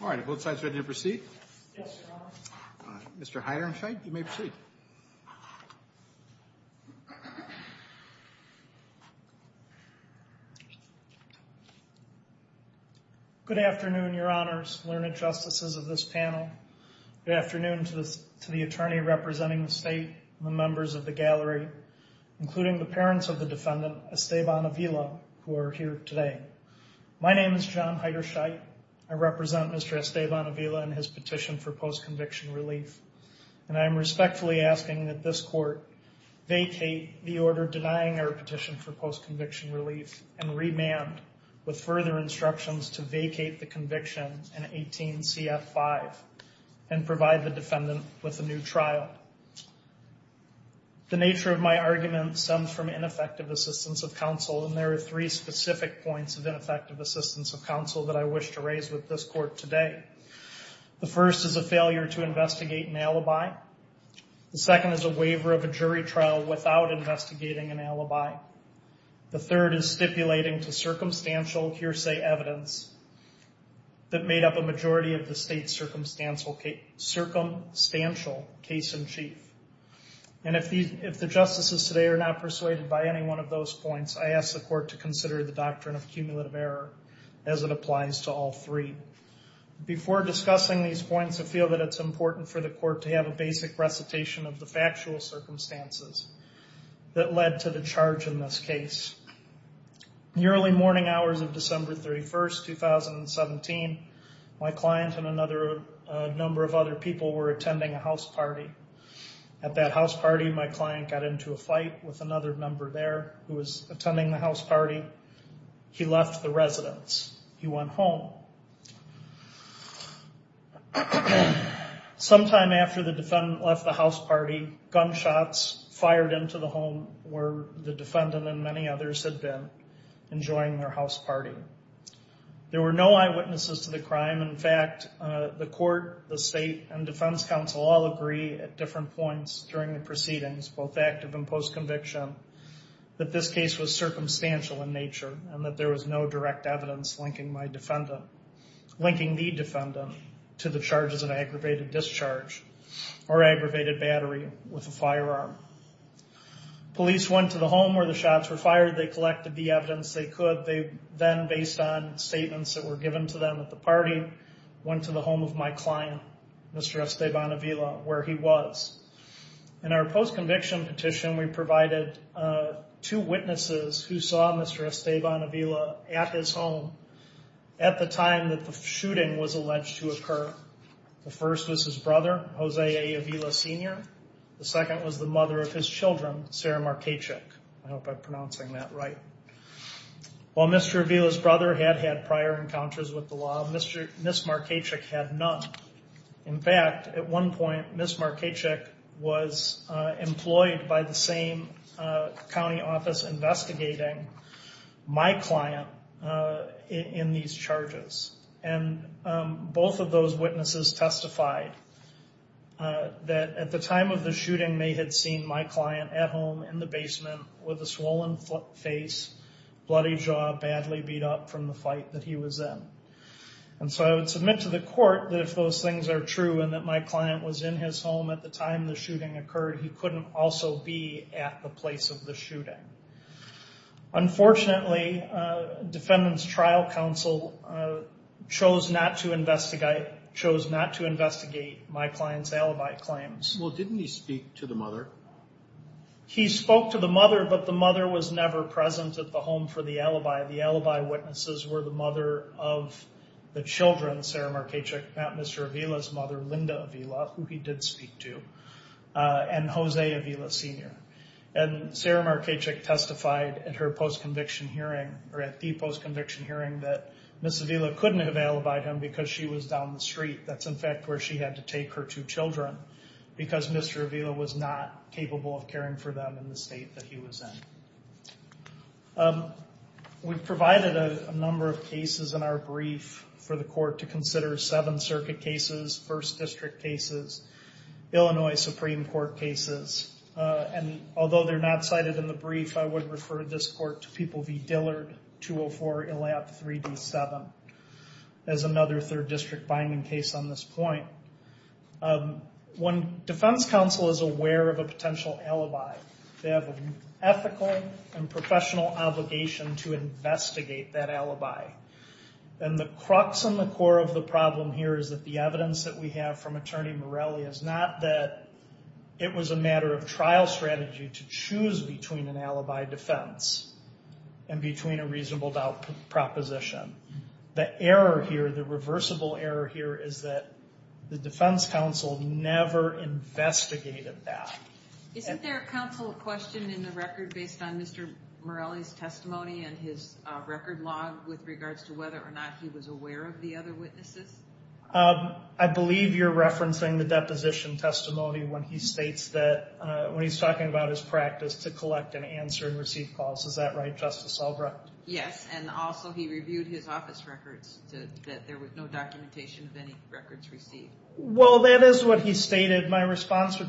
All right. Are both sides ready to proceed? Yes, your honor. Mr. Heidernfeind, you may proceed. Good afternoon, your honors, learned justices of this panel. Good afternoon to the attorney representing the state and the members of the gallery, including the parents of the defendant, Esteban Avila, who are here today. My name is John Heiderscheidt. I represent Mr. Esteban Avila and his petition for post-conviction relief. And I'm respectfully asking that this court vacate the order denying our petition for post-conviction relief and remand with further instructions to vacate the conviction in 18 CF5 and provide the defendant with a new trial. The nature of my argument stems from ineffective assistance of counsel, and there are three specific points of ineffective assistance of counsel that I wish to raise with this court today. The first is a failure to investigate an alibi. The second is a waiver of a jury trial without investigating an alibi. The third is stipulating to circumstantial hearsay evidence that made up a majority of the state's circumstantial case in chief. And if the justices today are not persuaded by any one of those points, I ask the court to consider the doctrine of cumulative error as it applies to all three. Before discussing these points, I feel that it's important for the court to have a basic recitation of the factual circumstances that led to the charge in this case. In the early morning hours of December 31st, 2017, my client and a number of other people were attending a house party. At that house party, my client got into a fight with another member there who was attending the house party. He left the residence. He went home. Sometime after the defendant left the house party, gunshots fired into the home where the defendant and many others had been enjoying their house party. There were no eyewitnesses to the crime. In fact, the court, the state, and defense counsel all agree at different points during the proceedings, both active and post-conviction, that this case was circumstantial in nature and that there was no direct evidence linking my defendant, linking the defendant to the charges of aggravated discharge or aggravated battery with a firearm. Police went to the home where the shots were fired. They collected the evidence they could. They then, based on statements that were given to them at the party, went to the home of my client, Mr. Esteban Avila, where he was. In our post-conviction petition, we provided two witnesses who saw Mr. Esteban Avila at his home at the time that the shooting was alleged to occur. The first was his brother, Jose A. Avila, Sr. The second was the mother of his children, Sarah Markechik. I hope I'm pronouncing that right. While Mr. Avila's brother had had prior encounters with the law, Ms. Markechik had none. In fact, at one point, Ms. Markechik was employed by the same county office investigating my client in these charges. Both of those witnesses testified that at the time of the shooting they had seen my client at home in the basement with a swollen face, bloody jaw, badly beat up from the fight that he was in. I would submit to the court that if those things are true and that my client was in his home at the time the shooting occurred, he couldn't also be at the place of the shooting. Unfortunately, Defendant's Trial Council chose not to investigate my client's alibi claims. Well, didn't he speak to the mother? He spoke to the mother, but the mother was never present at the home for the alibi. The alibi witnesses were the mother of the children, Sarah Markechik, not Mr. Avila's father, Linda Avila, who he did speak to, and Jose Avila, Sr. Sarah Markechik testified at her post-conviction hearing, or at the post-conviction hearing, that Ms. Avila couldn't have alibied him because she was down the street. That's, in fact, where she had to take her two children because Mr. Avila was not capable of caring for them in the state that he was in. We provided a number of cases in our brief for the court to consider, seven circuit cases, first district cases, Illinois Supreme Court cases, and although they're not cited in the brief, I would refer this court to People v. Dillard, 204 ELAP 3D7, as another third district binding case on this point. When defense counsel is aware of a potential alibi, they have an ethical and professional obligation to investigate that alibi, and the crux and the core of the problem here is that the evidence that we have from Attorney Morelli is not that it was a matter of trial strategy to choose between an alibi defense and between a reasonable doubt proposition. The error here, the reversible error here, is that the defense counsel never investigated that. Isn't there a counsel question in the record based on Mr. Morelli's testimony and his record log with regards to whether or not he was aware of the other witnesses? I believe you're referencing the deposition testimony when he states that, when he's talking about his practice to collect and answer and receive calls. Is that right, Justice Albright? Yes, and also he reviewed his office records that there was no documentation of any records received. Well, that is what he stated. My response to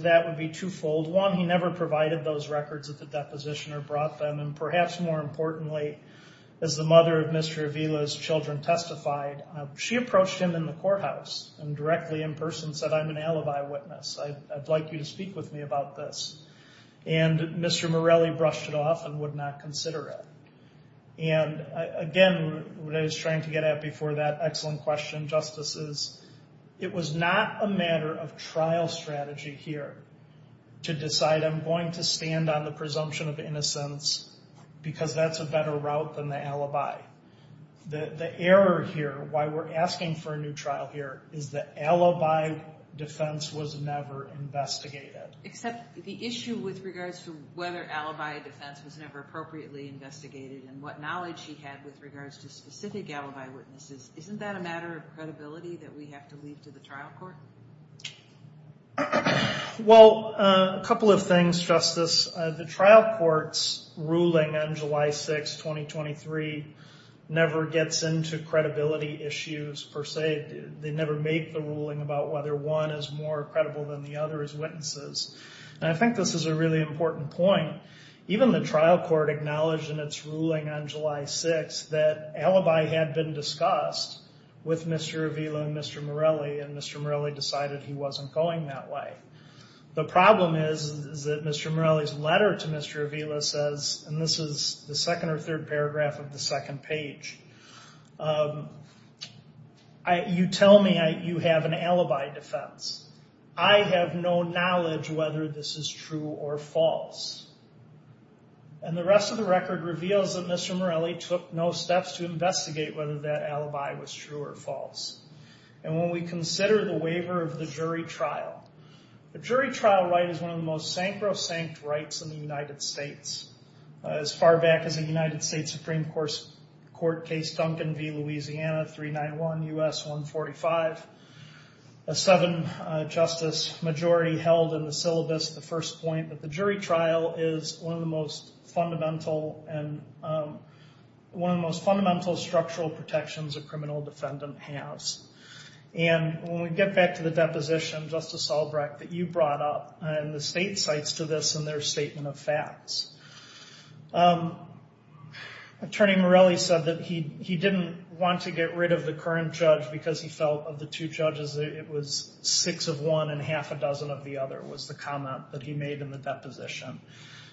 that would be twofold. One, he never provided those records at the deposition or brought them, and perhaps more and testified. She approached him in the courthouse and directly, in person, said, I'm an alibi witness. I'd like you to speak with me about this, and Mr. Morelli brushed it off and would not consider it. Again, what I was trying to get at before that excellent question, Justice, is it was not a matter of trial strategy here to decide I'm going to stand on the presumption of innocence because that's a better route than the alibi. The error here, why we're asking for a new trial here, is the alibi defense was never investigated. Except the issue with regards to whether alibi defense was never appropriately investigated and what knowledge he had with regards to specific alibi witnesses, isn't that a matter of credibility that we have to leave to the trial court? Well, a couple of things, Justice. The trial court's ruling on July 6, 2023, never gets into credibility issues, per se. They never make the ruling about whether one is more credible than the other as witnesses. I think this is a really important point. Even the trial court acknowledged in its ruling on July 6 that alibi had been discussed with Mr. Avila and Mr. Morelli and Mr. Morelli decided he wasn't going that way. The problem is that Mr. Morelli's letter to Mr. Avila says, and this is the second or third paragraph of the second page, you tell me you have an alibi defense. I have no knowledge whether this is true or false. And the rest of the record reveals that Mr. Morelli took no steps to investigate whether that alibi was true or false. And when we consider the waiver of the jury trial, the jury trial right is one of the most sacrosanct rights in the United States. As far back as the United States Supreme Court case Duncan v. Louisiana 391 U.S. 145, a seven-justice majority held in the syllabus the first point that the jury trial is one of the most fundamental and one of the most fundamental structural protections a criminal defendant has. And when we get back to the deposition, Justice Albrecht, that you brought up, and the state cites to this in their statement of facts, Attorney Morelli said that he didn't want to get rid of the current judge because he felt of the two judges it was six of one and half a dozen of the other was the comment that he made in the deposition.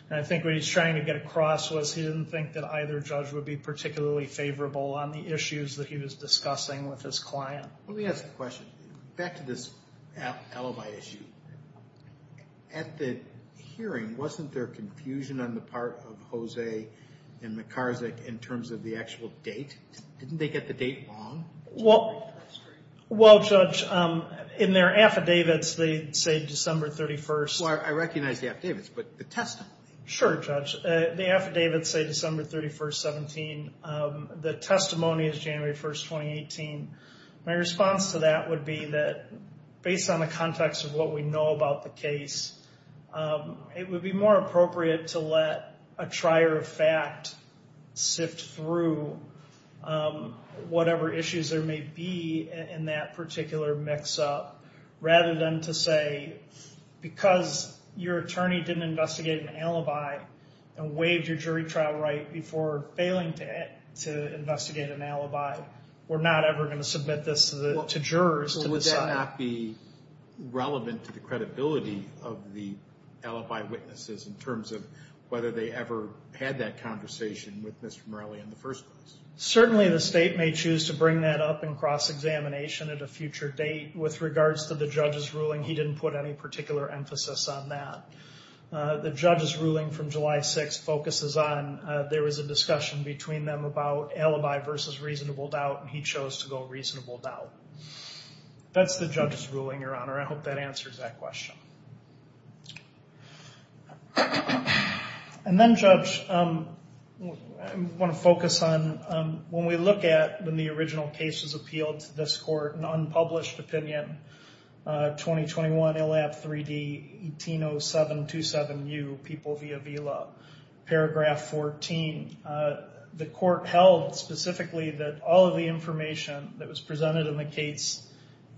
And I think what he's trying to get across was he didn't think that either judge would be particularly favorable on the issues that he was discussing with his client. Let me ask a question. Back to this alibi issue. At the hearing, wasn't there confusion on the part of Jose and McCarzick in terms of the actual date? Didn't they get the date wrong? Well, Judge, in their affidavits, they say December 31st. I recognize the affidavits, but the testimony? Sure, Judge. The affidavits say December 31st, 17. The testimony is January 1st, 2018. My response to that would be that based on the context of what we know about the case, it would be more appropriate to let a trier of fact sift through whatever issues there may be in that particular mix-up, rather than to say, because your attorney didn't investigate an alibi and waived your jury trial right before failing to investigate an alibi, we're not ever going to submit this to jurors to decide. Would that not be relevant to the credibility of the alibi witnesses in terms of whether they ever had that conversation with Mr. Morelli in the first place? Certainly, the state may choose to bring that up in cross-examination at a future date. With regards to the judge's ruling, he didn't put any particular emphasis on that. The judge's ruling from July 6th focuses on there was a discussion between them about alibi versus reasonable doubt, and he chose to go reasonable doubt. That's the judge's ruling, Your Honor. I hope that answers that question. Then, Judge, I want to focus on when we look at when the original case was appealed to this court, an unpublished opinion, 2021 ILAP 3D 180727U, People via VLAW, paragraph 14. The court held specifically that all of the information that was presented in the case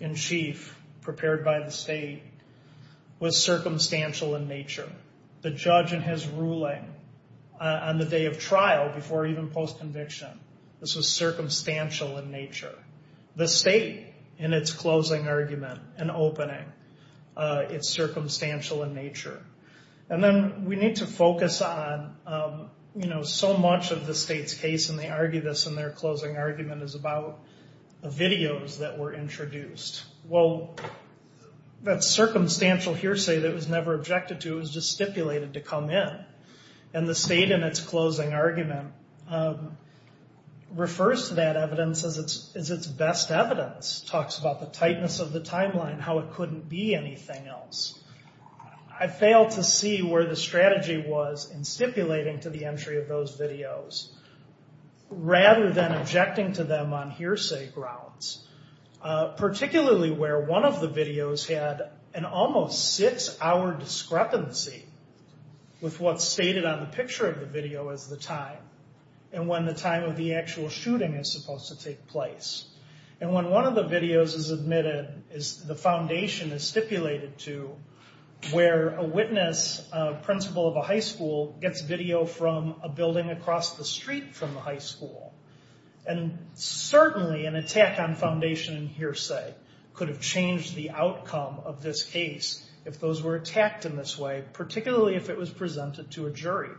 in chief prepared by the state was circumstantial in nature. The judge in his ruling on the day of trial before even post-conviction, this was circumstantial in nature. The state, in its closing argument and opening, it's circumstantial in nature. And then we need to focus on so much of the state's case, and they argue this in their introduced. Well, that circumstantial hearsay that was never objected to, it was just stipulated to come in. And the state, in its closing argument, refers to that evidence as its best evidence, talks about the tightness of the timeline, how it couldn't be anything else. I failed to see where the strategy was in stipulating to the entry of those videos rather than objecting to them on hearsay grounds. Particularly where one of the videos had an almost six-hour discrepancy with what's stated on the picture of the video as the time, and when the time of the actual shooting is supposed to take place. And when one of the videos is admitted, the foundation is stipulated to where a witness, a principal of a high school, gets video from a building across the street from the high school. And certainly an attack on foundation hearsay could have changed the outcome of this case if those were attacked in this way, particularly if it was presented to a jury.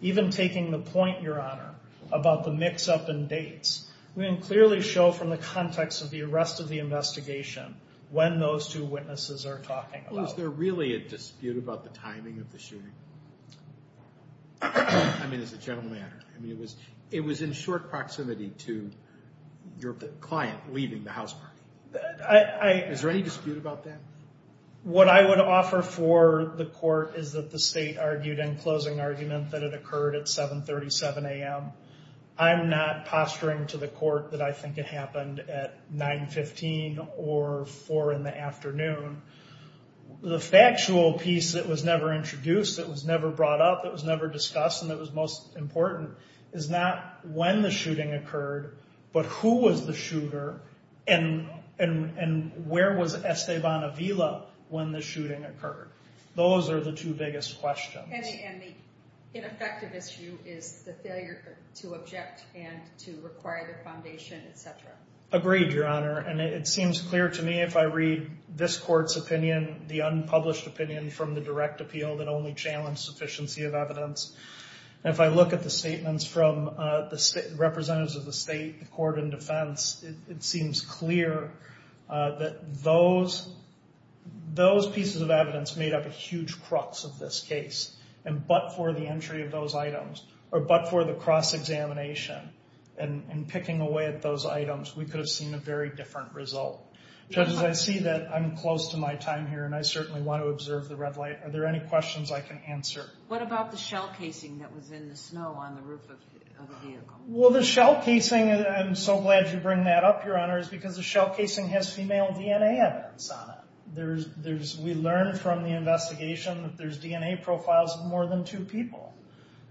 Even taking the point, Your Honor, about the mix-up in dates, we can clearly show from the context of the arrest of the investigation when those two witnesses are talking about. Was there really a dispute about the timing of the shooting? I mean, as a general matter. It was in short proximity to your client leaving the house. Is there any dispute about that? What I would offer for the court is that the state argued in closing argument that it occurred at 7.37 a.m. I'm not posturing to the court that I think it happened at 9.15 or 4 in the afternoon. The factual piece that was never introduced, that was never brought up, that was never discussed and that was most important is not when the shooting occurred, but who was the shooter and where was Esteban Avila when the shooting occurred? Those are the two biggest questions. And the ineffective issue is the failure to object and to require the foundation, etc. Agreed, Your Honor. And it seems clear to me if I read this court's opinion, the unpublished opinion from the direct appeal that only challenged sufficiency of evidence. And if I look at the statements from the representatives of the state, the court and defense, it seems clear that those pieces of evidence made up a huge crux of this case. And but for the entry of those items, or but for the cross-examination and picking away at those items, we could have seen a very different result. Judges, I see that I'm close to my time here and I certainly want to observe the red light. Are there any questions I can answer? What about the shell casing that was in the snow on the roof of the vehicle? Well, the shell casing, I'm so glad you bring that up, Your Honor, is because the shell casing has female DNA evidence on it. We learned from the investigation that there's DNA profiles of more than two people.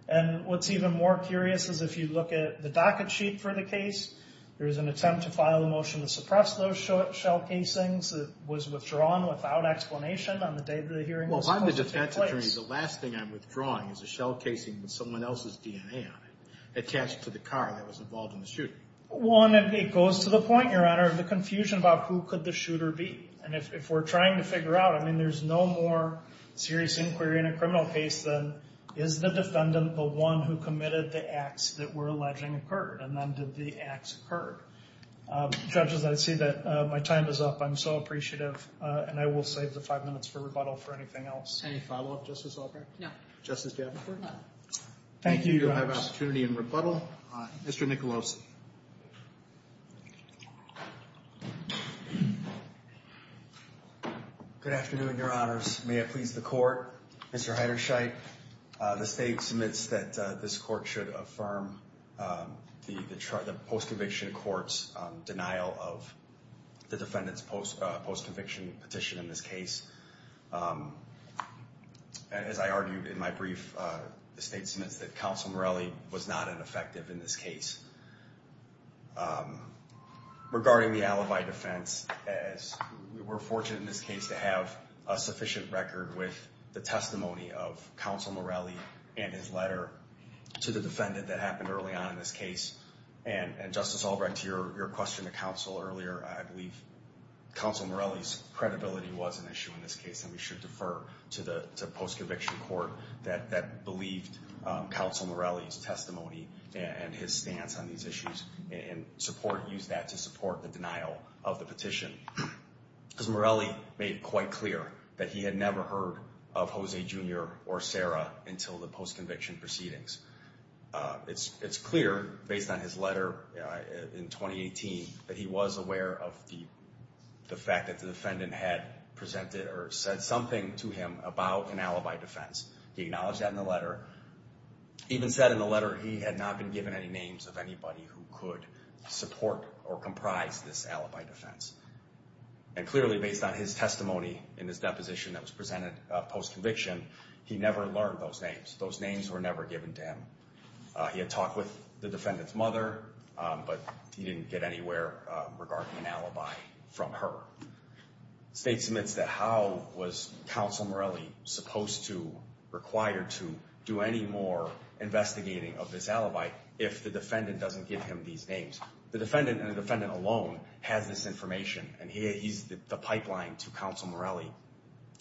And what's even more curious is if you look at the docket sheet for the case, there was an attempt to file a motion to suppress those shell casings. It was withdrawn without explanation on the day of the hearing. Well, I'm the defense attorney. The last thing I'm withdrawing is a shell casing with someone else's DNA on it attached to the car that was involved in the shooting. One, it goes to the point, Your Honor, of the confusion about who could the shooter be. And if we're trying to figure out, I mean, there's no more serious inquiry in a criminal case than is the defendant the one who committed the acts that were allegedly occurred? And then did the acts occur? Judges, I see that my time is up. I'm so appreciative. And I will save the five minutes for rebuttal for anything else. Any follow-up, Justice Albrecht? No. Justice Davenport? No. Thank you, Your Honor. You do have an opportunity in rebuttal. Mr. Nicolosi. Good afternoon, Your Honors. May it please the court. Mr. Heiderscheidt, the state submits that this court should affirm the post-conviction court's denial of the defendant's post-conviction petition in this case. As I argued in my brief, the state submits that Counsel Morelli was not ineffective in this case. Regarding the alibi defense, as we were fortunate in this case to have a sufficient record with the testimony of Counsel Morelli and his letter to the defendant that happened early on in this case. And Justice Albrecht, to your question to Counsel earlier, I believe Counsel Morelli's credibility was an issue in this case. And we should defer to the post-conviction court that believed Counsel Morelli's testimony and his stance on these issues and use that to support the denial of the petition. Because Morelli made it quite clear that he had never heard of Jose Jr. or Sarah until the post-conviction proceedings. It's clear, based on his letter in 2018, that he was aware of the fact that the defendant had presented or said something to him about an alibi defense. He acknowledged that in the letter, even said in the letter he had not been given any names of anybody who could support or comprise this alibi defense. And clearly, based on his testimony in this deposition that was presented post-conviction, he never learned those names. Those names were never given to him. He had talked with the defendant's mother, but he didn't get anywhere regarding an alibi from her. State submits that how was Counsel Morelli supposed to, required to, do any more investigating of this alibi if the defendant doesn't give him these names. The defendant, and the defendant alone, has this information. And he's the pipeline to Counsel Morelli.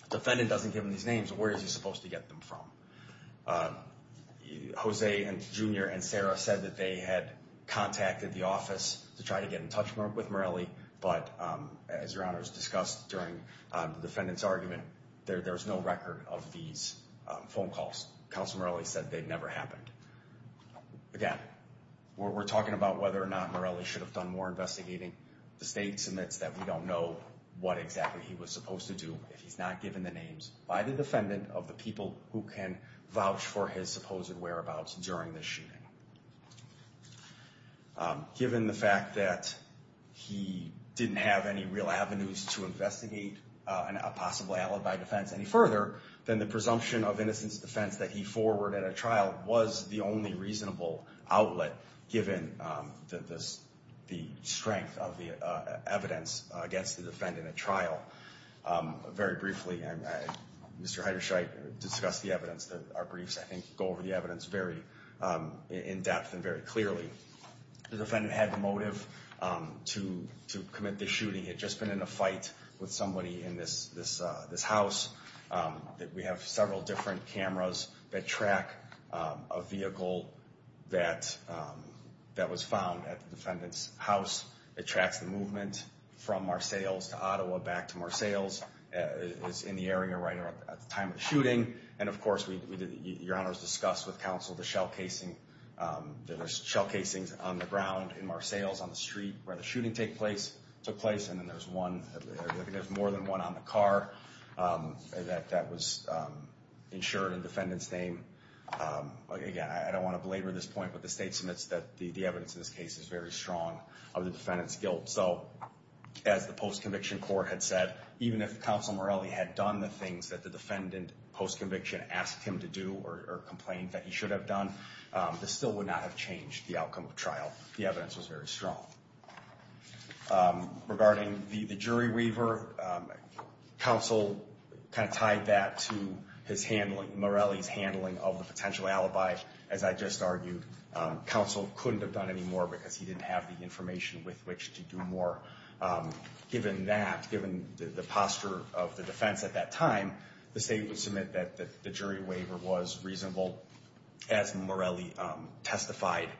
If the defendant doesn't give him these names, where is he supposed to get them from? Jose Jr. and Sarah said that they had contacted the office to try to get in touch with Morelli. But as Your Honor has discussed during the defendant's argument, there's no record of these phone calls. Counsel Morelli said they'd never happened. Again, we're talking about whether or not Morelli should have done more investigating. The state submits that we don't know what exactly he was supposed to do if he's not given the names by the defendant of the people who can vouch for his supposed whereabouts during this shooting. Given the fact that he didn't have any real avenues to investigate a possible alibi defense any further, then the presumption of innocence defense that he forwarded at trial was the only reasonable outlet given the strength of the evidence against the defendant at trial. Very briefly, Mr. Heiderscheidt discussed the evidence. Our briefs, I think, go over the evidence very in depth and very clearly. The defendant had the motive to commit this shooting. He had just been in a fight with somebody in this house. We have several different cameras that track a vehicle that was found at the defendant's house. It tracks the movement from Marsales to Ottawa, back to Marsales, is in the area right at the time of the shooting. And of course, Your Honor has discussed with counsel the shell casings on the ground in Marsales on the street where the shooting took place. And then there's more than one on the car. That was ensured in defendant's name. Again, I don't want to belabor this point, but the state submits that the evidence in this case is very strong of the defendant's guilt. So as the post-conviction court had said, even if counsel Morelli had done the things that the defendant post-conviction asked him to do or complained that he should have done, this still would not have changed the outcome of trial. The evidence was very strong. Regarding the jury waiver, counsel kind of tied that to his handling, Morelli's handling of the potential alibi. As I just argued, counsel couldn't have done any more because he didn't have the information with which to do more. Given that, given the posture of the defense at that time, the state would submit that the jury waiver was reasonable, as Morelli testified.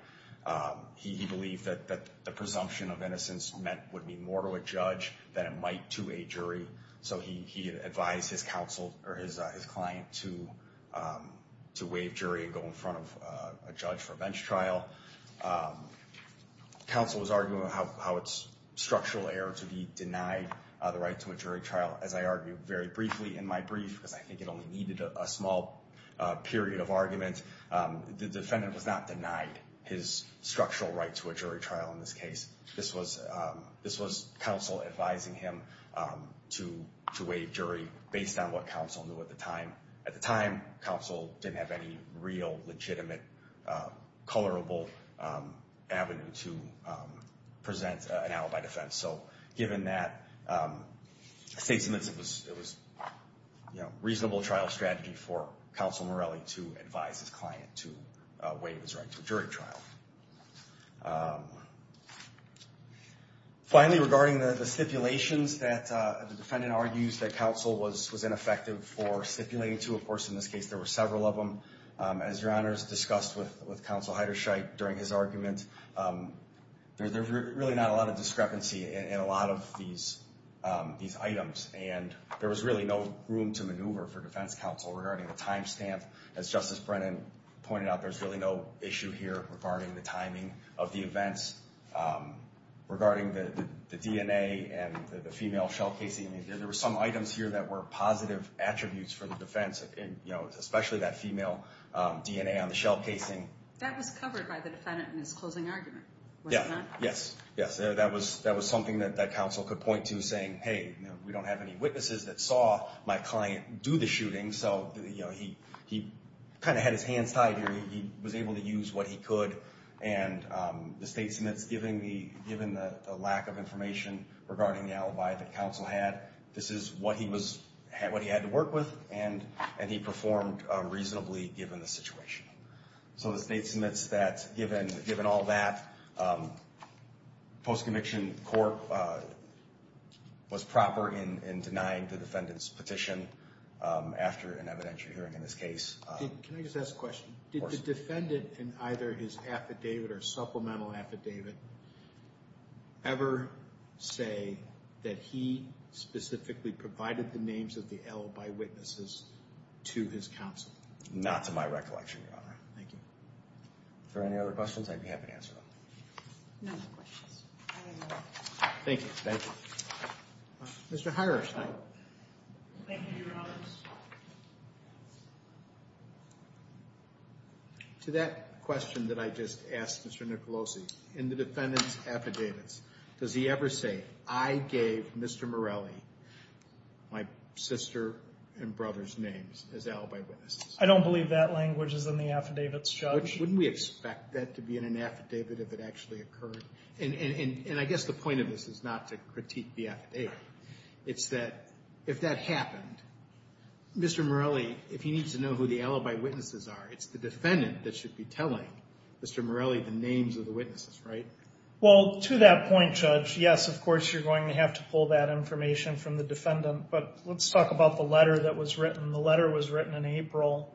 He believed that the presumption of innocence would mean more to a judge than it might to a jury. So he advised his counsel or his client to waive jury and go in front of a judge for a bench trial. Counsel was arguing how it's structural error to be denied the right to a jury trial. As I argued very briefly in my brief, because I think it only needed a small period of argument, the defendant was not denied his structural right to a jury trial in this case. This was counsel advising him to waive jury based on what counsel knew at the time. At the time, counsel didn't have any real, legitimate, colorable avenue to present an alibi defense. So given that statements, it was a reasonable trial strategy for counsel Morelli to advise his client to waive his right to a jury trial. Finally, regarding the stipulations that the defendant argues that counsel was ineffective for stipulating to. Of course, in this case, there were several of them. As your honors discussed with counsel Heiderscheit during his argument, there's really not a lot of discrepancy in a lot of these items. And there was really no room to maneuver for defense counsel regarding the time stamp. As Justice Brennan pointed out, there's really no issue here regarding the timing of the events, regarding the DNA and the female shell casing. There were some items here that were positive attributes for the defense, especially that female DNA on the shell casing. That was covered by the defendant in his closing argument, was it not? Yes, yes. That was something that counsel could point to saying, hey, we don't have any witnesses that saw my client do the shooting. So he kind of had his hands tied here. He was able to use what he could. And the state submits, given the lack of information regarding the alibi that counsel had, this is what he had to work with. And he performed reasonably, given the situation. So the state submits that, given all that, post-conviction court was proper in denying the defendant's petition after an evidentiary hearing in this case. Can I just ask a question? Did the defendant, in either his affidavit or supplemental affidavit, ever say that he specifically provided the names of the L by witnesses to his counsel? Not to my recollection, Your Honor. Thank you. If there are any other questions, I'd be happy to answer them. No more questions. Thank you. Thank you. Mr. Hiroshita. Thank you, Your Honor. To that question that I just asked Mr. Nicolosi, in the defendant's affidavits, does he ever say, I gave Mr. Morelli my sister and brother's names as alibi witnesses? I don't believe that language is in the affidavit, Judge. Wouldn't we expect that to be in an affidavit if it actually occurred? And I guess the point of this is not to critique the affidavit. It's that if that happened, Mr. Morelli, if he needs to know who the alibi witnesses are, it's the defendant that should be telling Mr. Morelli the names of the witnesses, right? Well, to that point, Judge, yes, of course, you're going to have to pull that information from the defendant. But let's talk about the letter that was written. The letter was written in April,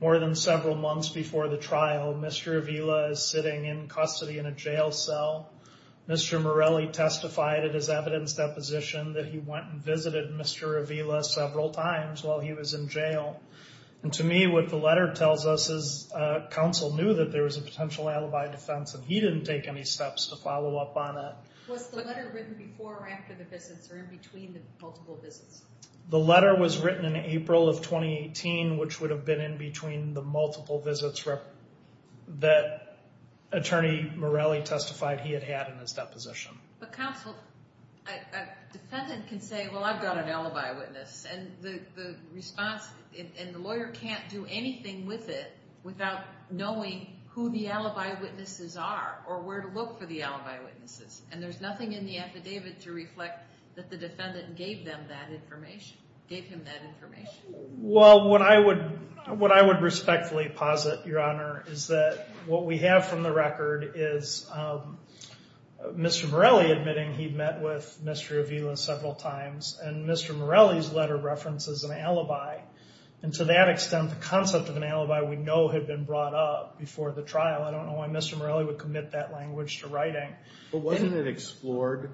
more than several months before the trial. Mr. Avila is sitting in custody in a jail cell. Mr. Morelli testified at his evidence deposition that he went and visited Mr. Avila several times while he was in jail. And to me, what the letter tells us is counsel knew that there was a potential alibi defense and he didn't take any steps to follow up on it. Was the letter written before or after the visits or in between the multiple visits? The letter was written in April of 2018, which would have been in between the multiple visits. That attorney Morelli testified he had had in his deposition. But counsel, a defendant can say, well, I've got an alibi witness. And the response and the lawyer can't do anything with it without knowing who the alibi witnesses are or where to look for the alibi witnesses. And there's nothing in the affidavit to reflect that the defendant gave them that information, gave him that information. Well, what I would respectfully posit, Your Honor, is that what we have from the record is Mr. Morelli admitting he'd met with Mr. Avila several times and Mr. Morelli's letter references an alibi. And to that extent, the concept of an alibi we know had been brought up before the trial. I don't know why Mr. Morelli would commit that language to writing. But wasn't it explored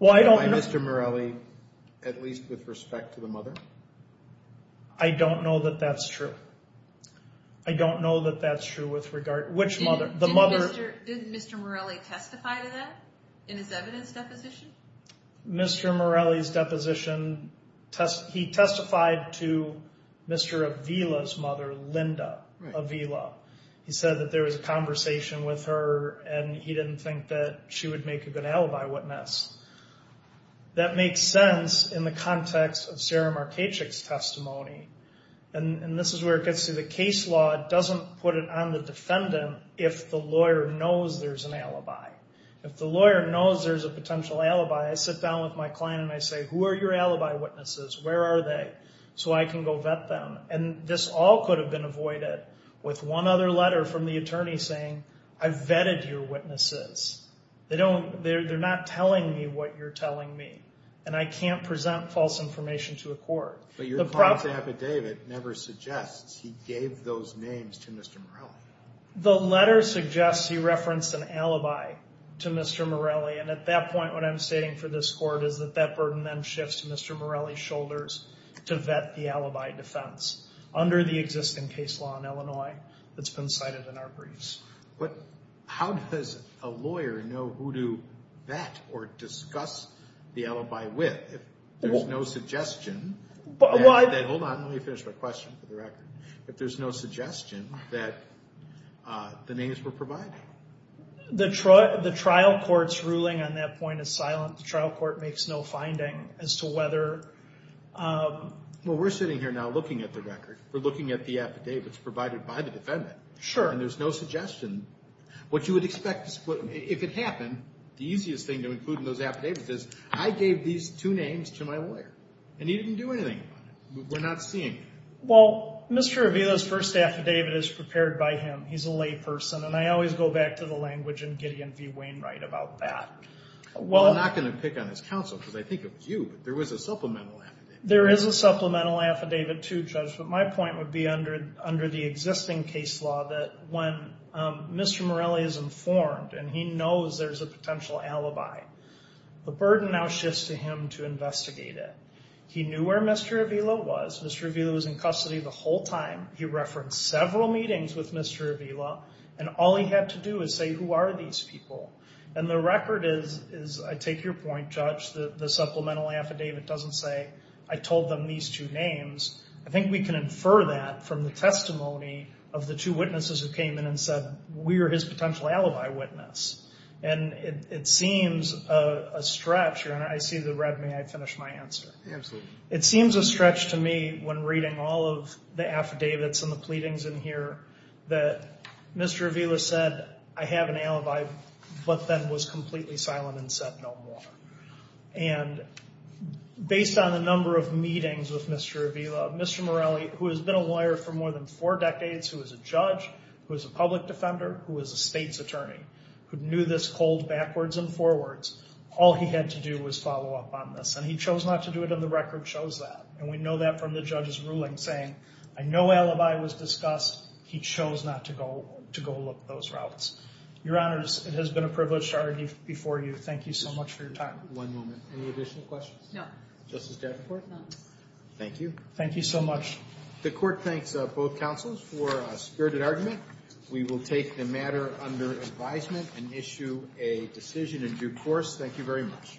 by Mr. Morelli, at least with respect to the mother? I don't know that that's true. I don't know that that's true with regard to which mother. The mother... Did Mr. Morelli testify to that in his evidence deposition? Mr. Morelli's deposition, he testified to Mr. Avila's mother, Linda Avila. He said that there was a conversation with her and he didn't think that she would make a good alibi witness. That makes sense in the context of Sarah Marchecik's testimony. And this is where it gets to the case law. It doesn't put it on the defendant if the lawyer knows there's an alibi. If the lawyer knows there's a potential alibi, I sit down with my client and I say, who are your alibi witnesses? Where are they? So I can go vet them. And this all could have been avoided with one other letter from the attorney saying, I've vetted your witnesses. They don't, they're not telling me what you're telling me. And I can't present false information to a court. But your client's affidavit never suggests he gave those names to Mr. Morelli. The letter suggests he referenced an alibi to Mr. Morelli. And at that point, what I'm stating for this court is that that burden then shifts to Mr. Morelli's shoulders to vet the alibi defense under the existing case law in Illinois that's been cited in our briefs. But how does a lawyer know who to vet or discuss the alibi with? There's no suggestion that, hold on, let me finish my question for the record. If there's no suggestion that the names were provided. The trial court's ruling on that point is silent. The trial court makes no finding as to whether... Well, we're sitting here now looking at the record. We're looking at the affidavits provided by the defendant. Sure. And there's no suggestion. What you would expect, if it happened, the easiest thing to include in those affidavits is I gave these two names to my lawyer and he didn't do anything about it. We're not seeing it. Well, Mr. Avila's first affidavit is prepared by him. He's a lay person. And I always go back to the language in Gideon v. Wainwright about that. Well, I'm not going to pick on his counsel because I think it was you, but there was a supplemental affidavit. There is a supplemental affidavit too, Judge. But my point would be under the existing case law that when Mr. Morelli is informed and he knows there's a potential alibi, the burden now shifts to him to investigate it. He knew where Mr. Avila was. Mr. Avila was in custody the whole time. He referenced several meetings with Mr. Avila. And all he had to do is say, who are these people? And the record is, I take your point, Judge, the supplemental affidavit doesn't say, I told them these two names. I think we can infer that from the testimony of the two witnesses who came in and said, we're his potential alibi witness. And it seems a stretch, and I see the red, may I finish my answer? Absolutely. It seems a stretch to me when reading all of the affidavits and the pleadings in here that Mr. Avila said, I have an alibi, but then was completely silent and said no more. And based on the number of meetings with Mr. Avila, Mr. Morelli, who has been a lawyer for more than four decades, who is a judge, who is a public defender, who is a state's attorney, who knew this cold backwards and forwards, all he had to do was follow up on this. And he chose not to do it, and the record shows that. And we know that from the judge's ruling, saying, I know alibi was discussed. He chose not to go look at those routes. Your Honors, it has been a privilege to argue before you. Thank you so much for your time. One moment. Any additional questions? No. Justice Davenport? No. Thank you. Thank you so much. The court thanks both counsels for a spirited argument. We will take the matter under advisement and issue a decision in due course. Thank you very much.